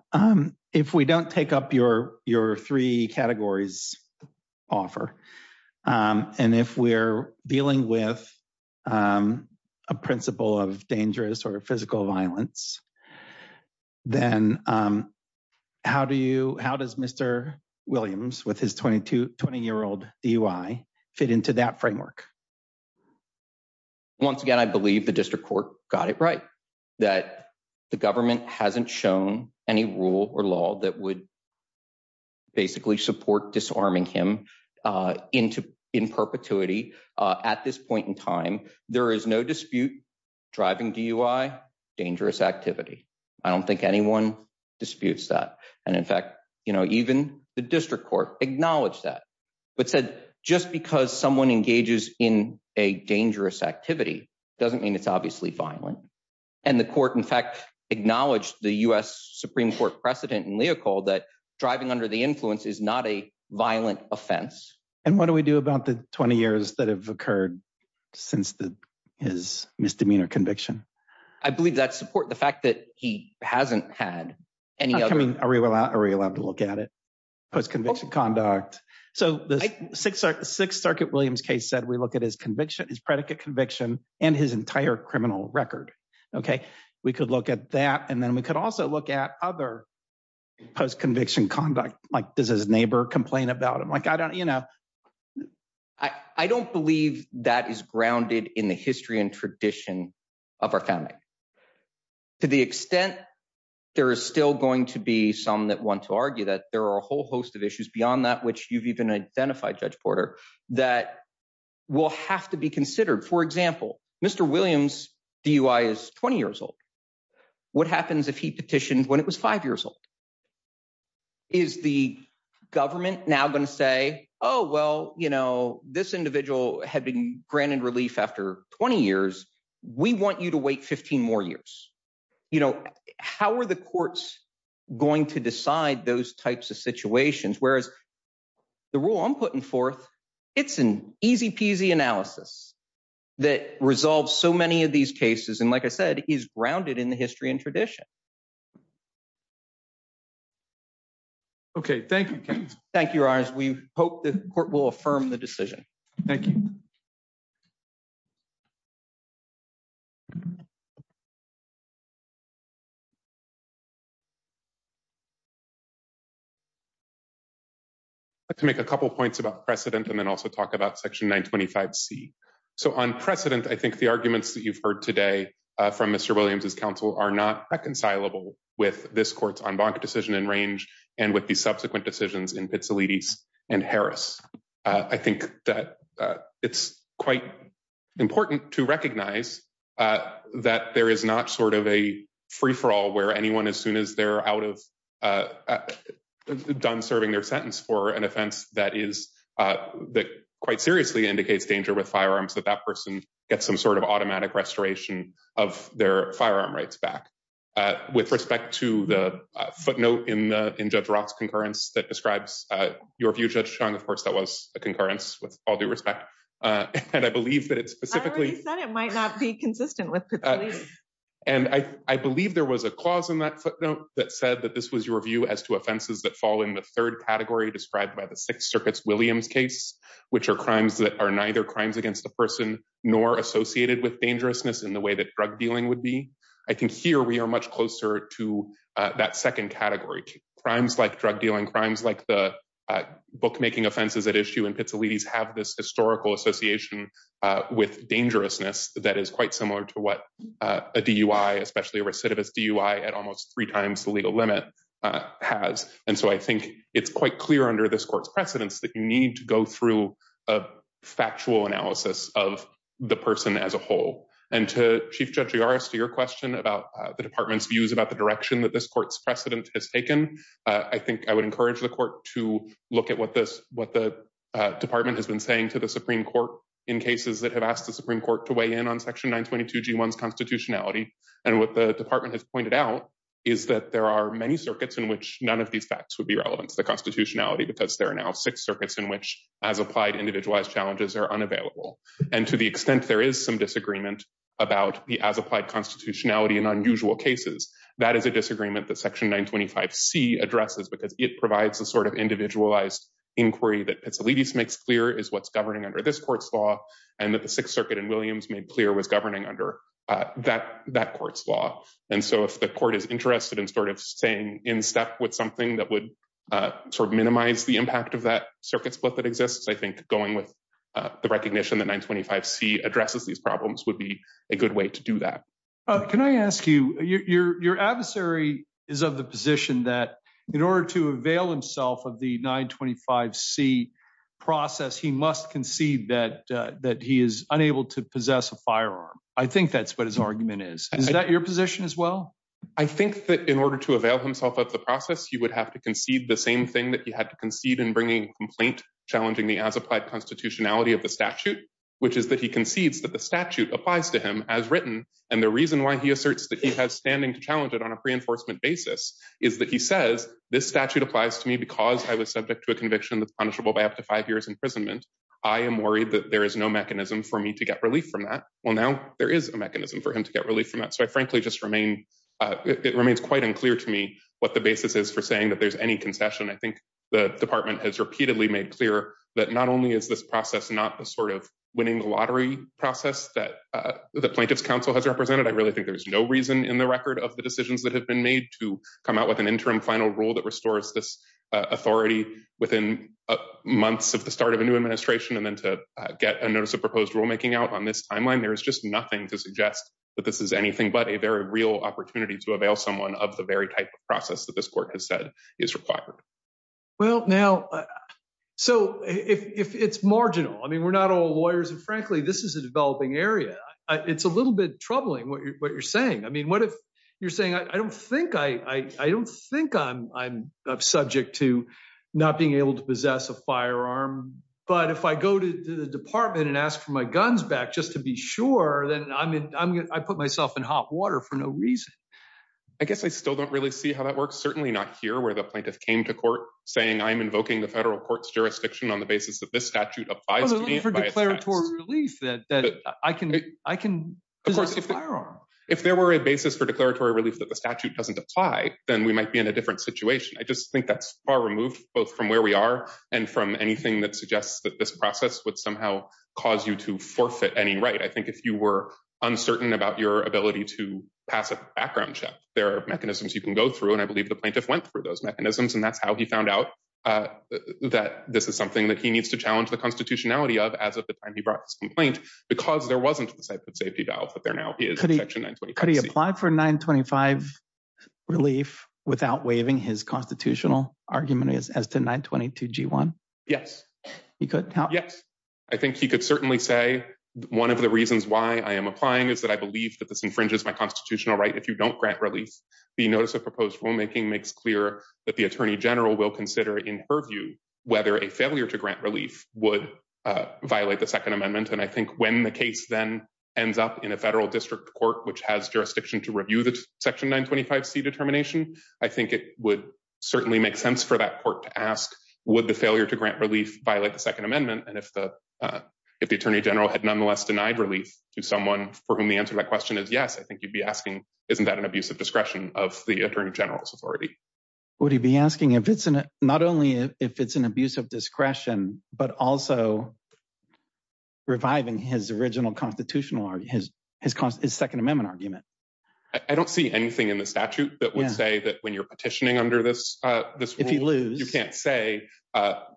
if we don't take up your three categories offer, and if we're dealing with a principle of dangerous or physical violence, then how do you, how does Mr. Williams, with his 20-year-old DUI, fit into that framework? Once again, I believe the district court got it right. That the government hasn't shown any rule or law that would basically support disarming him in perpetuity at this point in time. There is no dispute, driving DUI, dangerous activity. I don't think anyone disputes that. And in fact, even the district court acknowledged that, but said, just because someone engages in a dangerous activity doesn't mean it's obviously violent. And the court, in fact, acknowledged the U.S. Supreme Court precedent in Leopold that driving under the influence is not a violent offense. And what do we do about the 20 years that have occurred since his misdemeanor conviction? I believe that support, the fact that he hasn't had any other- I mean, are we allowed to look at it, post-conviction conduct? So the Sixth Circuit Williams case said we look at his conviction, his predicate conviction, and his entire criminal record. We could look at that, and then we could also look at other post-conviction conduct. Like, does his neighbor complain about him? Like, I don't- I don't believe that is grounded in the history and tradition of our family. To the extent there is still going to be some that want to argue that, there are a whole host of issues beyond that which you've even identified, Judge Porter, that will have to be considered. For example, Mr. Williams' DUI is 20 years old. What happens if he petitioned when it was 5 years old? Is the government now going to say, oh, well, you know, this individual had been granted relief after 20 years, we want you to wait 15 more years? You know, how are the courts going to decide those types of situations? Whereas the rule I'm putting forth, it's an easy-peasy analysis. That resolves so many of these cases, and like I said, is grounded in the history and tradition. Okay, thank you, Ken. Thank you, Your Honors. We hope the court will affirm the decision. Thank you. I'd like to make a couple points about precedent, and then also talk about Section 925C. So on precedent, I think the arguments that you've heard today from Mr. Williams' counsel are not reconcilable with this court's en banc decision in Range, and with the subsequent decisions in Pizzolitti's and Harris. I think that it's quite important to recognize that there is not sort of a free-for-all where anyone, as soon as they're out of, done serving their sentence for an offense that is, that quite seriously indicates danger with firearms, that that person gets some sort of automatic restoration of their firearm rights back. With respect to the footnote in Judge Roth's concurrence that describes your view, Judge Chung, of course, that was a concurrence, with all due respect, and I believe that it specifically— I already said it might not be consistent with Pizzolitti's. And I believe there was a clause in that footnote that said that this was your view as to offenses that fall in the third category described by the Sixth Circuit's Williams case, which are crimes that are neither crimes against the person nor associated with dangerousness in the way that drug dealing would be. I think here we are much closer to that second category. Crimes like drug dealing, crimes like the bookmaking offenses at issue in Pizzolitti's have this historical association with dangerousness that is quite similar to what a DUI, especially a recidivist DUI, at almost three times the legal limit has. And so I think it's quite clear under this court's precedence that you need to go through a factual analysis of the person as a whole. And to Chief Judge Yaris, to your question about the department's views about the direction that this court's precedent has taken, I think I would encourage the court to look at what this—what the department has been saying to the Supreme Court in cases that have asked the Supreme Court to weigh in on Section 922G1's constitutionality. And what the department has pointed out is that there are many circuits in which none of these facts would be relevant to the constitutionality because there are now six circuits in which, as applied, individualized challenges are unavailable. And to the extent there is some disagreement about the as-applied constitutionality in unusual cases, that is a disagreement that Section 925C addresses because it provides a sort of individualized inquiry that Pizzolitti's makes clear is what's governing under this court's law and that the Sixth Circuit in Williams made clear was governing under that court's law. And so if the court is interested in sort of staying in step with something that would sort of minimize the impact of that circuit split that exists, I think going with the recognition that 925C addresses these problems would be a good way to do that. Can I ask you, your adversary is of the position that in order to avail himself of the 925C process, he must concede that he is unable to possess a firearm. I think that's what his argument is. Is that your position as well? I think that in order to avail himself of the process, he would have to concede the same thing that he had to concede in bringing a complaint challenging the as-applied constitutionality of the statute, which is that he concedes that the statute applies to him as written. And the reason why he asserts that he has standing to challenge it on a reinforcement basis is that he says, this statute applies to me because I was subject to a conviction that's punishable by up to five years imprisonment. I am worried that there is no mechanism for me to get relief from that. Well, now there is a mechanism for him to get relief from that. So I frankly just remain, it remains quite unclear to me what the basis is for saying that there's any concession. I think the department has repeatedly made clear that not only is this process not the sort of winning the lottery process that the Plaintiff's Council has represented. I really think there's no reason in the record of the decisions that have been made to come out with an interim final rule that restores this authority within months of the start of a new administration and then to get a notice of proposed rulemaking out on this timeline. There is just nothing to suggest that this is anything but a very real opportunity to avail someone of the very type of process that this court has said is required. Well, now, so if it's marginal, I mean, we're not all lawyers and frankly, this is a developing area. It's a little bit troubling what you're saying. I mean, what if you're saying, I don't think I'm subject to not being able to possess a firearm, but if I go to the department and ask for my guns back just to be sure, then I put myself in hot water for no reason. I guess I still don't really see how that works. Certainly not here where the Plaintiff came to court saying I'm invoking the federal court's jurisdiction on the basis that this statute applies to me. For declaratory relief that I can possess a firearm. If there were a basis for declaratory relief that the statute doesn't apply, then we might be in a different situation. I just think that's far removed both from where we are and from anything that suggests that this process would somehow cause you to forfeit any right. I think if you were uncertain about your ability to pass a background check, there are mechanisms you can go through and I believe the Plaintiff went through those mechanisms and that's how he found out that this is something that he needs to challenge the constitutionality of as of the time he brought this complaint because there wasn't a safety valve that there now is in Section 925C. Could he apply for 925 relief without waiving his constitutional argument as to 922G1? Yes. He could? Yes. I think he could certainly say one of the reasons why I am applying is that I believe that this infringes my constitutional right if you don't grant relief. The notice of proposed rulemaking makes clear that the Attorney General will consider in her view whether a failure to grant relief would violate the Second Amendment and I think when the case then ends up in a federal district court which has jurisdiction to review the Section 925C determination, I think it would certainly make sense for that court to ask would the failure to grant relief violate the Second Amendment and if the Attorney General had nonetheless denied relief to someone for whom the answer to that question is yes, I think you would be asking isn't that an abuse of discretion of the Attorney General's authority? Would he be asking not only if it's an abuse of discretion but also reviving his original constitutional argument, his Second Amendment argument? I don't see anything in the statute that would say that when you are petitioning under this rule... If he loses... You can't say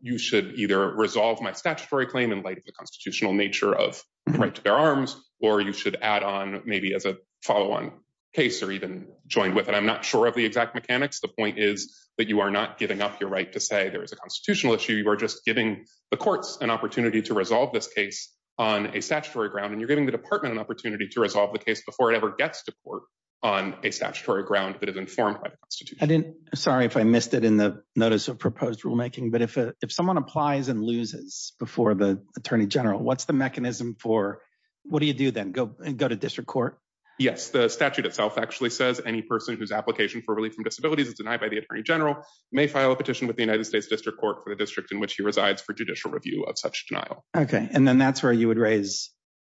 you should either resolve my statutory claim in light of the constitutional nature of the right to bear arms or you should add on maybe as a follow-on case or even joined with it. I'm not sure of the exact mechanics. The point is that you are not giving up your right to say there is a constitutional issue. You are just giving the courts an opportunity to resolve this case on a statutory ground and you're giving the department an opportunity to resolve the case before it ever gets to court on a statutory ground that is informed by the Constitution. Sorry if I missed it in the notice of proposed rulemaking, but if someone applies and loses before the Attorney General, what's the mechanism for... What do you do then? Go to district court? Yes. The statute itself actually says any person whose application for relief from disabilities is denied by the Attorney General may file a petition with the United States District Court for the district in which he resides for judicial review of such denial. Okay. And then that's where you would raise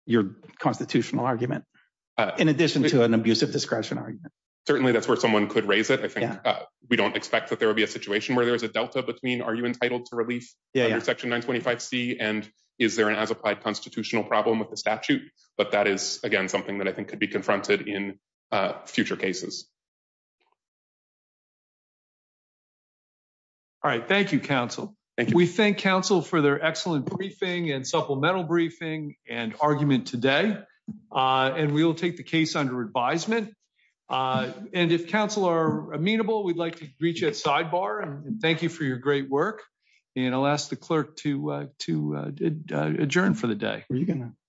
your constitutional argument in addition to an abuse of discretion argument. Certainly, that's where someone could raise it. I think we don't expect that there will be a situation where there is a delta between are you entitled to relief under Section 925C and is there an as-applied constitutional problem with the statute? But that is, again, something that I think could be confronted in future cases. All right. Thank you, counsel. We thank counsel for their excellent briefing and supplemental briefing and argument today. And we will take the case under advisement. And if counsel are amenable, we'd like to greet you at sidebar and thank you for your great work. And I'll ask the clerk to adjourn for the day.